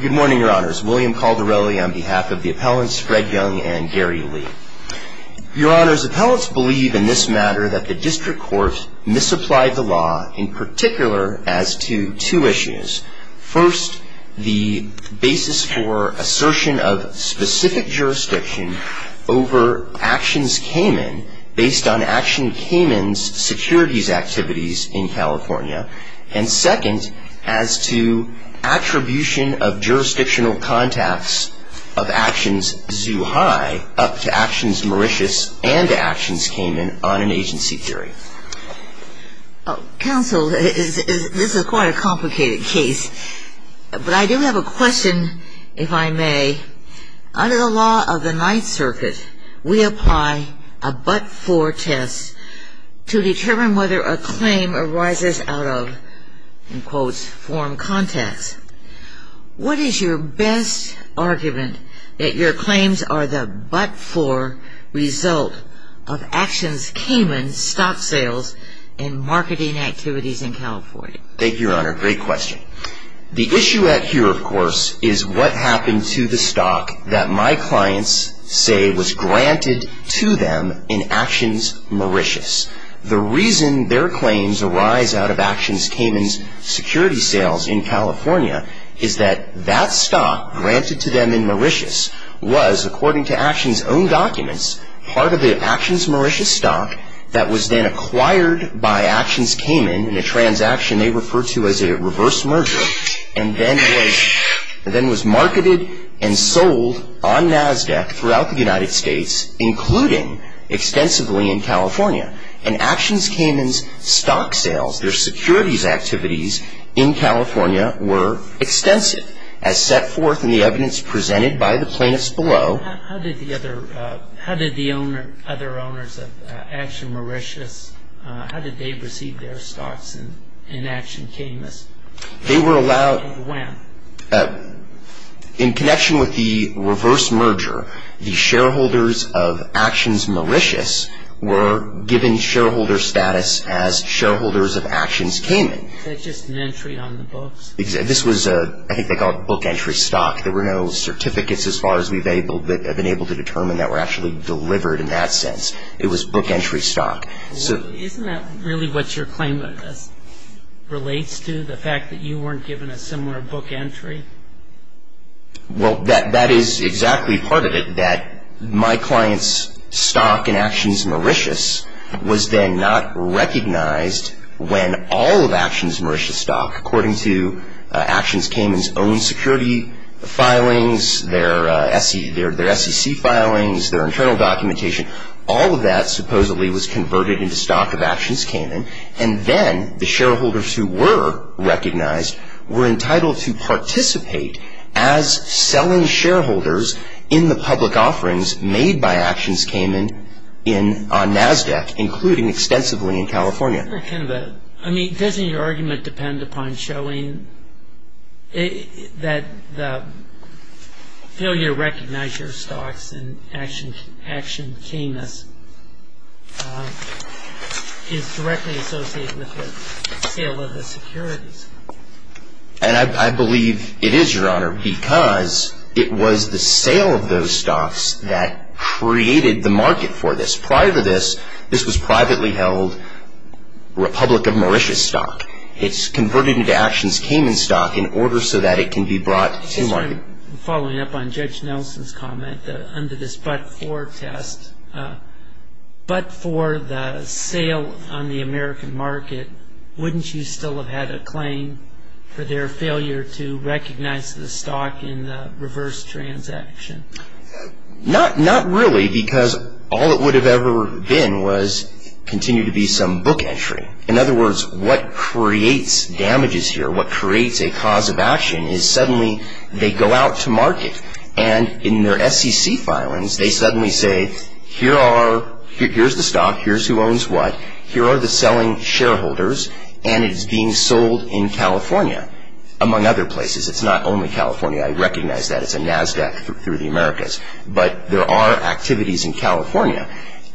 Good morning, your honors. William Caldarelli on behalf of the appellants, Fred Young and Gary Lee. Your honors, appellants believe in this matter that the district court misapplied the law in particular as to two issues. First, the basis for assertion of specific jurisdiction over Actions Cayman based on Action Cayman's securities activities in California. And second, as to attribution of jurisdictional contacts of Actions Zoo High up to Actions Mauritius and Actions Cayman on an agency theory. Counsel, this is quite a complicated case, but I do have a question, if I may. Under the law of the Ninth Circuit, we apply a but-for test to determine whether a claim arises out of, in quotes, form contacts. What is your best argument that your claims are the but-for result of Actions Cayman's stock sales and marketing activities in California? Thank you, your honor. Great question. The issue here, of course, is what happened to the stock that my clients say was granted to them in Actions Mauritius. The reason their claims arise out of Actions Cayman's security sales in California is that that stock granted to them in Mauritius was, according to Actions' own documents, part of the Actions Mauritius stock that was then acquired by Actions Cayman in a transaction they refer to as a reverse merger and then was marketed and sold on NASDAQ throughout the United States, including extensively in California. And Actions Cayman's stock sales, their securities activities in California were extensive, as set forth in the evidence presented by the plaintiffs below. How did the other owners of Actions Mauritius, how did they receive their stocks in Actions Cayman's? They were allowed... When? In connection with the reverse merger, the shareholders of Actions Mauritius were given shareholder status as shareholders of Actions Cayman. Is that just an entry on the books? This was, I think they call it book entry stock. There were no certificates as far as we've been able to determine that were actually delivered in that sense. It was book entry stock. Isn't that really what your claim relates to, the fact that you weren't given a similar book entry? Well, that is exactly part of it, that my client's stock in Actions Mauritius was then not recognized when all of Actions Mauritius stock, according to Actions Cayman's own security filings, their SEC filings, their internal documentation, all of that supposedly was converted into stock of Actions Cayman. And then the shareholders who were recognized were entitled to participate as selling shareholders in the public offerings made by Actions Cayman on NASDAQ, including extensively in California. Doesn't your argument depend upon showing that the failure to recognize your stocks in Actions Cayman is directly associated with the sale of the securities? And I believe it is, Your Honor, because it was the sale of those stocks that created the market for this. Prior to this, this was privately held Republic of Mauritius stock. It's converted into Actions Cayman stock in order so that it can be brought to market. Following up on Judge Nelson's comment, under this but-for test, but for the sale on the American market, wouldn't you still have had a claim for their failure to recognize the stock in the reverse transaction? Not really, because all it would have ever been was continued to be some book entry. In other words, what creates damages here, what creates a cause of action is suddenly they go out to market, and in their SEC filings, they suddenly say, here's the stock, here's who owns what, here are the selling shareholders, and it's being sold in California, among other places. It's not only California. I recognize that. It's a NASDAQ through the Americas. But there are activities in California.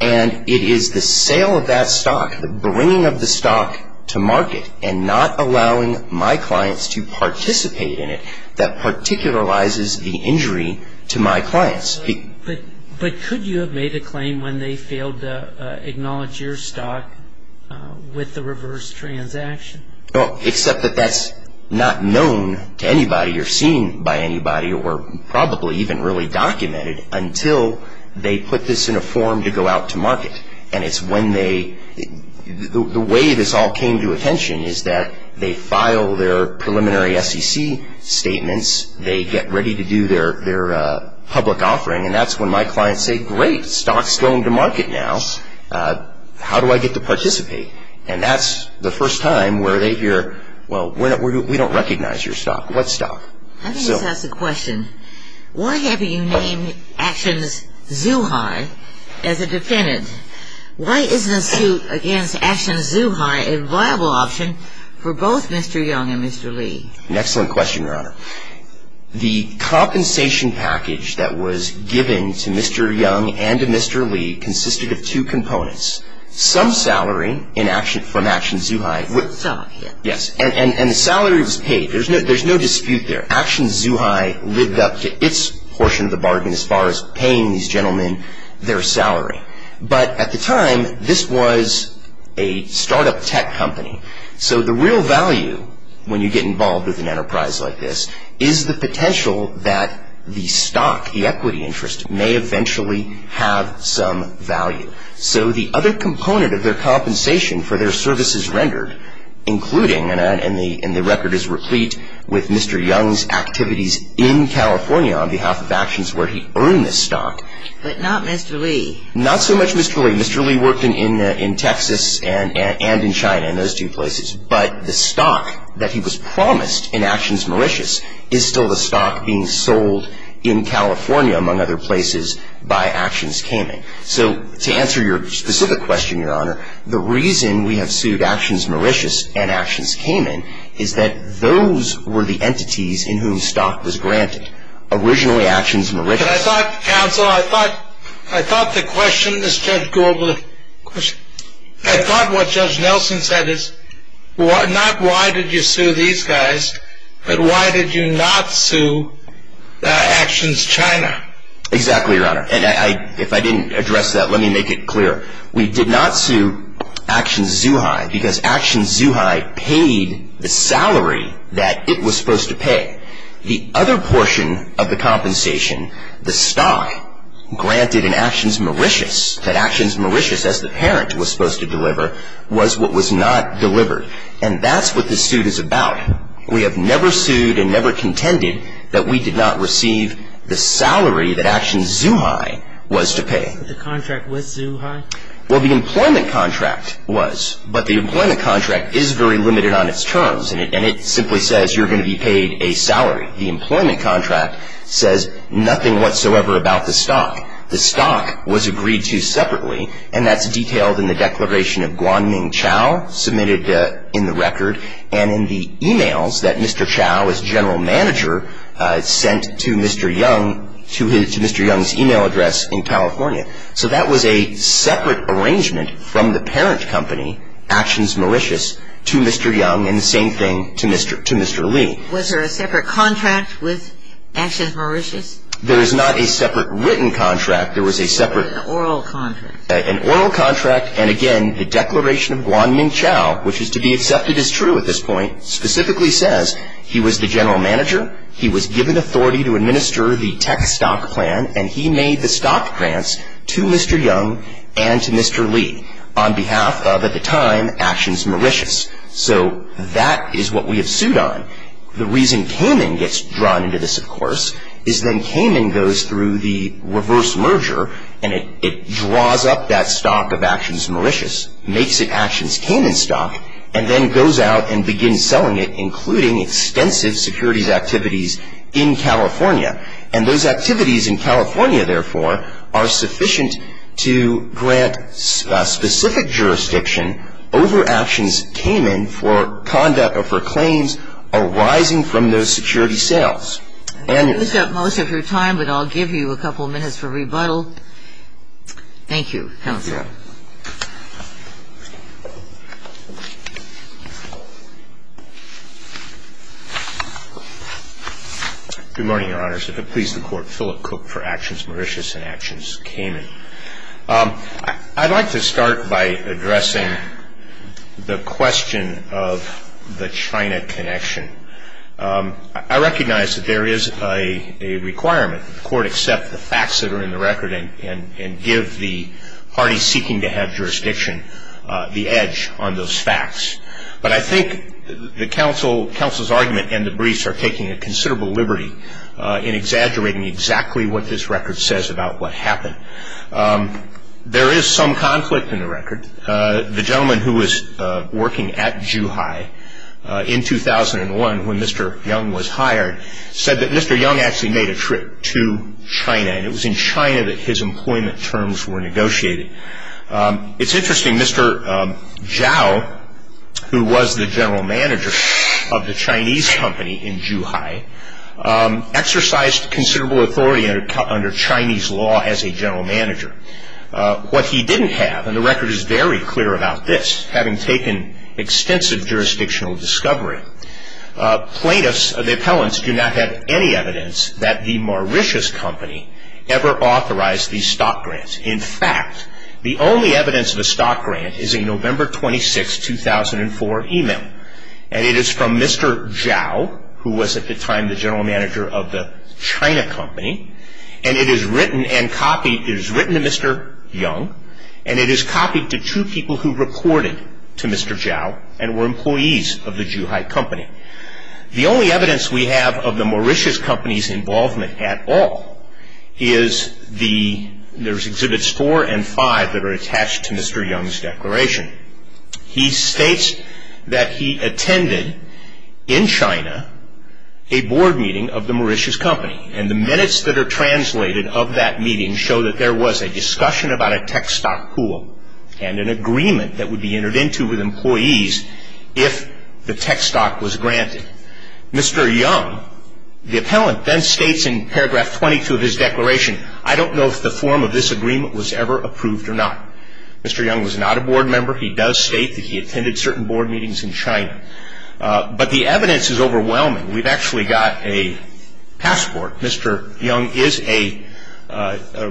And it is the sale of that stock, the bringing of the stock to market, and not allowing my clients to participate in it that particularizes the injury to my clients. But could you have made a claim when they failed to acknowledge your stock with the reverse transaction? Well, except that that's not known to anybody or seen by anybody or probably even really documented until they put this in a form to go out to market. And it's when they-the way this all came to attention is that they file their preliminary SEC statements, they get ready to do their public offering, and that's when my clients say, great, stock's going to market now. How do I get to participate? And that's the first time where they hear, well, we don't recognize your stock. What stock? Let me just ask a question. Why haven't you named Actions Zuhai as a defendant? Why isn't a suit against Actions Zuhai a viable option for both Mr. Young and Mr. Lee? An excellent question, Your Honor. The compensation package that was given to Mr. Young and to Mr. Lee consisted of two components. Some salary from Actions Zuhai- Salary. Yes. And the salary was paid. There's no dispute there. Actions Zuhai lived up to its portion of the bargain as far as paying these gentlemen their salary. But at the time, this was a startup tech company. So the real value when you get involved with an enterprise like this is the potential that the stock, the equity interest, may eventually have some value. So the other component of their compensation for their services rendered, including, and the record is replete with Mr. Young's activities in California on behalf of Actions where he earned this stock- But not Mr. Lee. Not so much Mr. Lee. Mr. Lee worked in Texas and in China, in those two places. But the stock that he was promised in Actions Mauritius is still the stock being sold in California, among other places, by Actions Cayman. So to answer your specific question, Your Honor, the reason we have sued Actions Mauritius and Actions Cayman is that those were the entities in whom stock was granted. Originally, Actions Mauritius- But I thought, counsel, I thought the question this judge- I thought what Judge Nelson said is not why did you sue these guys, but why did you not sue Actions China? Exactly, Your Honor. And if I didn't address that, let me make it clear. We did not sue Actions Zuhai because Actions Zuhai paid the salary that it was supposed to pay. The other portion of the compensation, the stock granted in Actions Mauritius, that Actions Mauritius, as the parent, was supposed to deliver, was what was not delivered. And that's what this suit is about. In fact, we have never sued and never contended that we did not receive the salary that Actions Zuhai was to pay. The contract was Zuhai? Well, the employment contract was, but the employment contract is very limited on its terms, and it simply says you're going to be paid a salary. The employment contract says nothing whatsoever about the stock. The stock was agreed to separately, and that's detailed in the Declaration of Guanming Chao, submitted in the record, and in the e-mails that Mr. Chao, as general manager, sent to Mr. Young, to Mr. Young's e-mail address in California. So that was a separate arrangement from the parent company, Actions Mauritius, to Mr. Young, and the same thing to Mr. Li. Was there a separate contract with Actions Mauritius? There is not a separate written contract. There was a separate oral contract. An oral contract, and again, the Declaration of Guanming Chao, which is to be accepted as true at this point, specifically says he was the general manager, he was given authority to administer the tech stock plan, and he made the stock grants to Mr. Young and to Mr. Li on behalf of, at the time, Actions Mauritius. So that is what we have sued on. The reason Cayman gets drawn into this, of course, is then Cayman goes through the reverse merger, and it draws up that stock of Actions Mauritius, makes it Actions Cayman stock, and then goes out and begins selling it, including extensive securities activities in California. And those activities in California, therefore, are sufficient to grant specific jurisdiction over Actions Cayman and for conduct or for claims arising from those security sales. And it's not. You've used up most of your time, but I'll give you a couple minutes for rebuttal. Thank you, Counsel. Good morning, Your Honors. It pleases the Court, Philip Cook for Actions Mauritius and Actions Cayman. I'd like to start by addressing the question of the China connection. I recognize that there is a requirement that the Court accept the facts that are in the record and give the party seeking to have jurisdiction the edge on those facts. But I think the Counsel's argument and the briefs are taking a considerable liberty in exaggerating exactly what this record says about what happened. There is some conflict in the record. The gentleman who was working at Zhuhai in 2001, when Mr. Young was hired, said that Mr. Young actually made a trip to China, and it was in China that his employment terms were negotiated. It's interesting, Mr. Zhao, who was the general manager of the Chinese company in Zhuhai, exercised considerable authority under Chinese law as a general manager. What he didn't have, and the record is very clear about this, having taken extensive jurisdictional discovery, plaintiffs, the appellants, do not have any evidence that the Mauritius company ever authorized these stock grants. In fact, the only evidence of a stock grant is a November 26, 2004 email, and it is from Mr. Zhao, who was at the time the general manager of the China company, and it is written to Mr. Young, and it is copied to two people who reported to Mr. Zhao and were employees of the Zhuhai company. The only evidence we have of the Mauritius company's involvement at all is the there's exhibits four and five that are attached to Mr. Young's declaration. He states that he attended, in China, a board meeting of the Mauritius company, and the minutes that are translated of that meeting show that there was a discussion about a tech stock pool and an agreement that would be entered into with employees if the tech stock was granted. Mr. Young, the appellant, then states in paragraph 22 of his declaration, I don't know if the form of this agreement was ever approved or not. Mr. Young was not a board member. He does state that he attended certain board meetings in China. But the evidence is overwhelming. We've actually got a passport. Mr. Young is a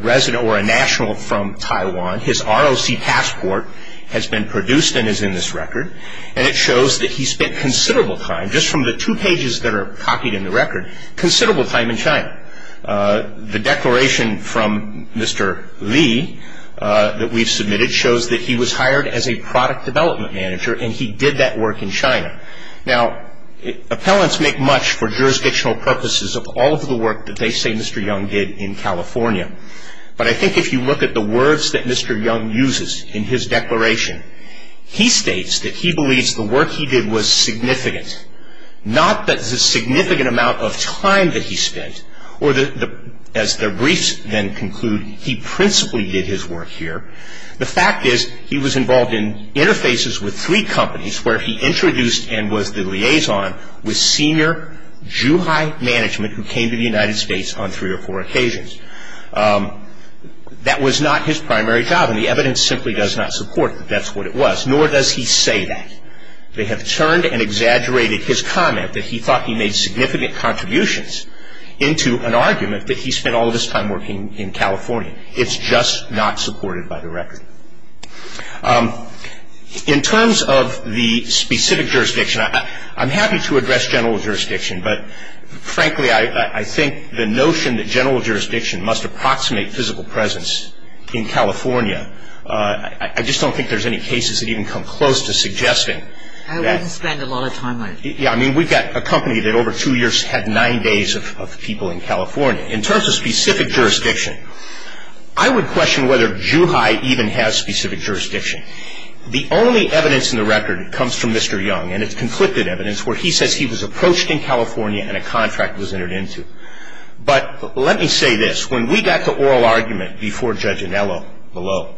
resident or a national from Taiwan. His ROC passport has been produced and is in this record, and it shows that he spent considerable time, just from the two pages that are copied in the record, considerable time in China. The declaration from Mr. Li that we've submitted shows that he was hired as a product development manager, and he did that work in China. Now, appellants make much for jurisdictional purposes of all of the work that they say Mr. Young did in California. But I think if you look at the words that Mr. Young uses in his declaration, he states that he believes the work he did was significant, not that the significant amount of time that he spent, or as the briefs then conclude, he principally did his work here. The fact is he was involved in interfaces with three companies where he introduced and was the liaison with senior Juhai management who came to the United States on three or four occasions. That was not his primary job, and the evidence simply does not support that that's what it was, nor does he say that. They have turned and exaggerated his comment that he thought he made significant contributions into an argument that he spent all of his time working in California. It's just not supported by the record. In terms of the specific jurisdiction, I'm happy to address general jurisdiction, but frankly I think the notion that general jurisdiction must approximate physical presence in California, I just don't think there's any cases that even come close to suggesting that. I wouldn't spend a lot of time on it. Yeah, I mean we've got a company that over two years had nine days of people in California. In terms of specific jurisdiction, I would question whether Juhai even has specific jurisdiction. The only evidence in the record comes from Mr. Young, and it's conflicted evidence where he says he was approached in California and a contract was entered into. But let me say this. When we got to oral argument before Judge Anello below,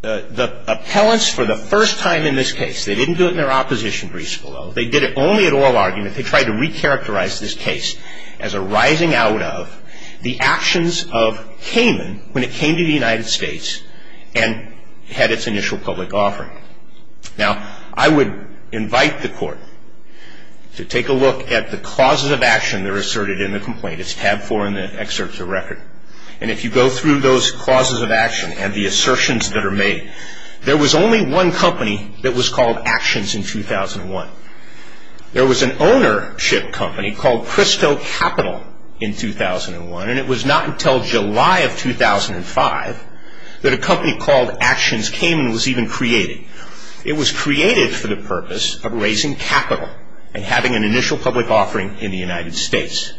the appellants for the first time in this case, they didn't do it in their opposition briefs below. They did it only at oral argument. They tried to recharacterize this case as arising out of the actions of Kamin when it came to the United States and had its initial public offering. Now, I would invite the court to take a look at the clauses of action that are asserted in the complaint. It's tab four in the excerpts of the record. And if you go through those clauses of action and the assertions that are made, there was only one company that was called Actions in 2001. There was an ownership company called Cristo Capital in 2001, and it was not until July of 2005 that a company called Actions Kamin was even created. It was created for the purpose of raising capital and having an initial public offering in the United States.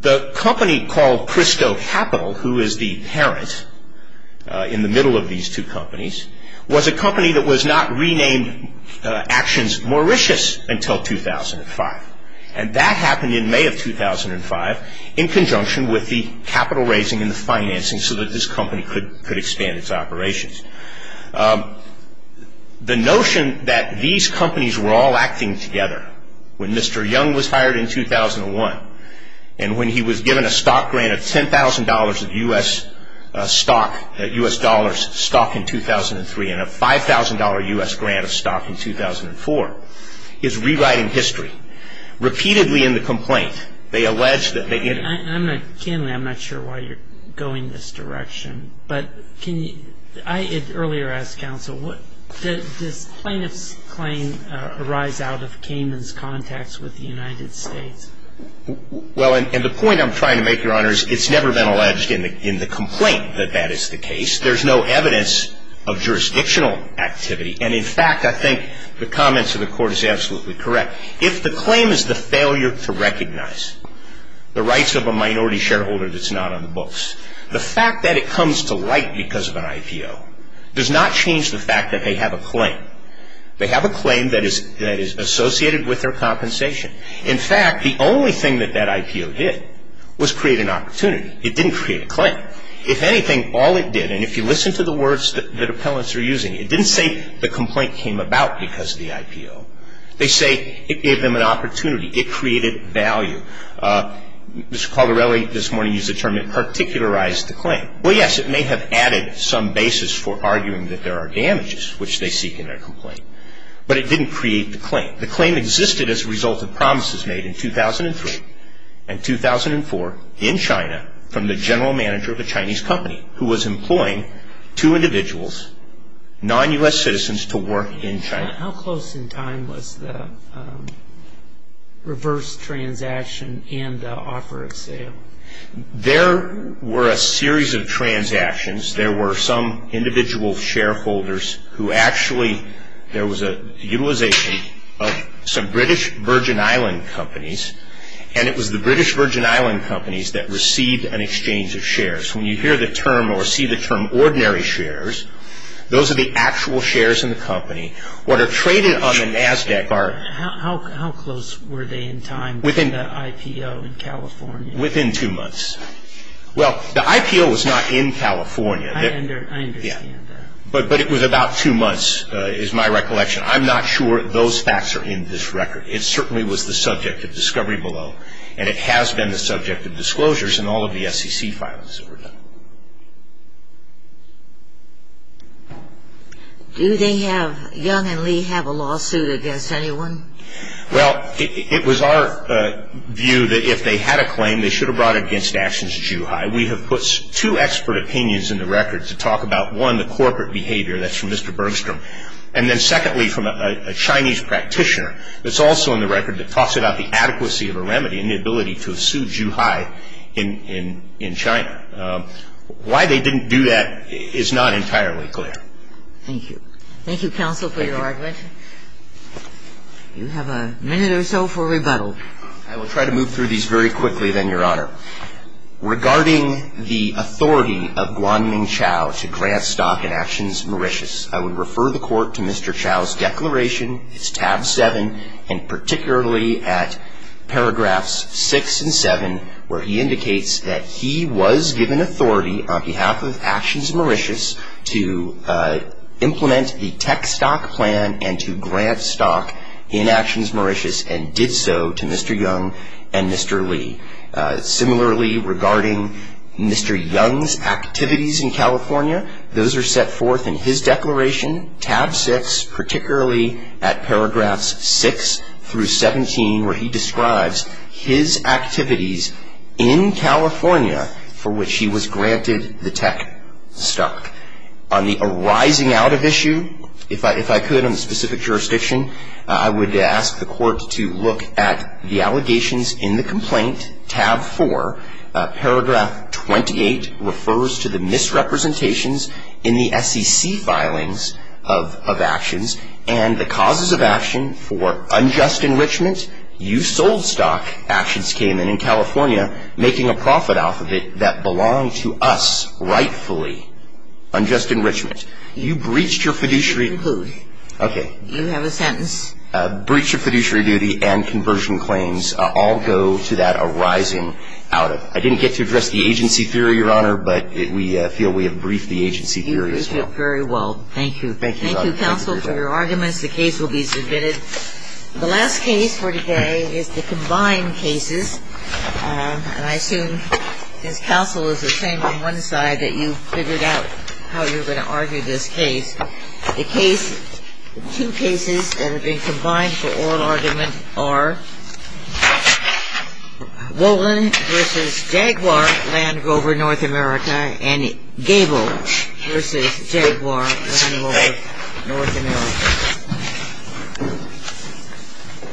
The company called Cristo Capital, who is the parent in the middle of these two companies, was a company that was not renamed Actions Mauritius until 2005. And that happened in May of 2005 in conjunction with the capital raising and the financing so that this company could expand its operations. The notion that these companies were all acting together when Mr. Young was hired in 2001 and when he was given a stock grant of $10,000 of U.S. stock, U.S. dollars stock in 2003 and a $5,000 U.S. grant of stock in 2004 is rewriting history. Repeatedly in the complaint, they allege that they get... I'm not sure why you're going this direction, but earlier I asked counsel, does plaintiff's claim arise out of Kamin's contacts with the United States? Well, and the point I'm trying to make, Your Honor, is it's never been alleged in the complaint that that is the case. There's no evidence of jurisdictional activity. And in fact, I think the comments of the court is absolutely correct. If the claim is the failure to recognize the rights of a minority shareholder that's not on the books, the fact that it comes to light because of an IPO does not change the fact that they have a claim. They have a claim that is associated with their compensation. In fact, the only thing that that IPO did was create an opportunity. It didn't create a claim. If anything, all it did, and if you listen to the words that appellants are using, it didn't say the complaint came about because of the IPO. They say it gave them an opportunity. It created value. Mr. Caldarelli this morning used the term, it particularized the claim. Well, yes, it may have added some basis for arguing that there are damages which they seek in their complaint, but it didn't create the claim. The claim existed as a result of promises made in 2003 and 2004 in China from the general manager of a Chinese company who was employing two individuals, non-U.S. citizens, to work in China. How close in time was the reverse transaction and the offer of sale? There were a series of transactions. There were some individual shareholders who actually, there was a utilization of some British Virgin Island companies, and it was the British Virgin Island companies that received an exchange of shares. When you hear the term or see the term ordinary shares, those are the actual shares in the company. What are traded on the NASDAQ are... How close were they in time for that IPO in California? Within two months. Well, the IPO was not in California. I understand that. But it was about two months is my recollection. I'm not sure those facts are in this record. It certainly was the subject of discovery below, and it has been the subject of disclosures in all of the SEC files that were done. Do they have, Young and Lee, have a lawsuit against anyone? Well, it was our view that if they had a claim, they should have brought it against Ashton's Zhuhai. We have put two expert opinions in the record to talk about, one, the corporate behavior. That's from Mr. Bergstrom. And then secondly, from a Chinese practitioner that's also in the record that talks about the adequacy of a remedy and the ability to sue Zhuhai in China. Why they didn't do that is not entirely clear. Thank you. Thank you, Counsel, for your argument. Thank you. You have a minute or so for rebuttal. I will try to move through these very quickly then, Your Honor. Regarding the authority of Guanming Chao to grant stock in Ashton's Mauritius, I would refer the Court to Mr. Chao's declaration. It's tab 7, and particularly at paragraphs 6 and 7 where he indicates that he was given authority on behalf of Ashton's to grant the tech stock plan and to grant stock in Ashton's Mauritius and did so to Mr. Young and Mr. Lee. Similarly, regarding Mr. Young's activities in California, those are set forth in his declaration, tab 6, particularly at paragraphs 6 through 17 where he describes his activities in California for which he was granted the tech stock. On the arising out of issue, if I could, on the specific jurisdiction, I would ask the Court to look at the allegations in the complaint, tab 4, paragraph 28, refers to the misrepresentations in the SEC filings of actions and the causes of action for unjust enrichment, you sold stock, Ashton's came in, in California, making a profit off of it that belonged to us rightfully, unjust enrichment. You breached your fiduciary duty. Okay. You have a sentence. Breach of fiduciary duty and conversion claims all go to that arising out of. I didn't get to address the agency theory, Your Honor, but we feel we have briefed the agency theory as well. Very well. Thank you. Thank you, counsel, for your arguments. The case will be submitted. The last case for today is the combined cases, and I assume, since counsel is the same on one side, that you've figured out how you're going to argue this case. The case, two cases that have been combined for oral argument are Wolin v. Jaguar, Land Rover, North America, and Gable v. Jaguar, Land Rover, North America.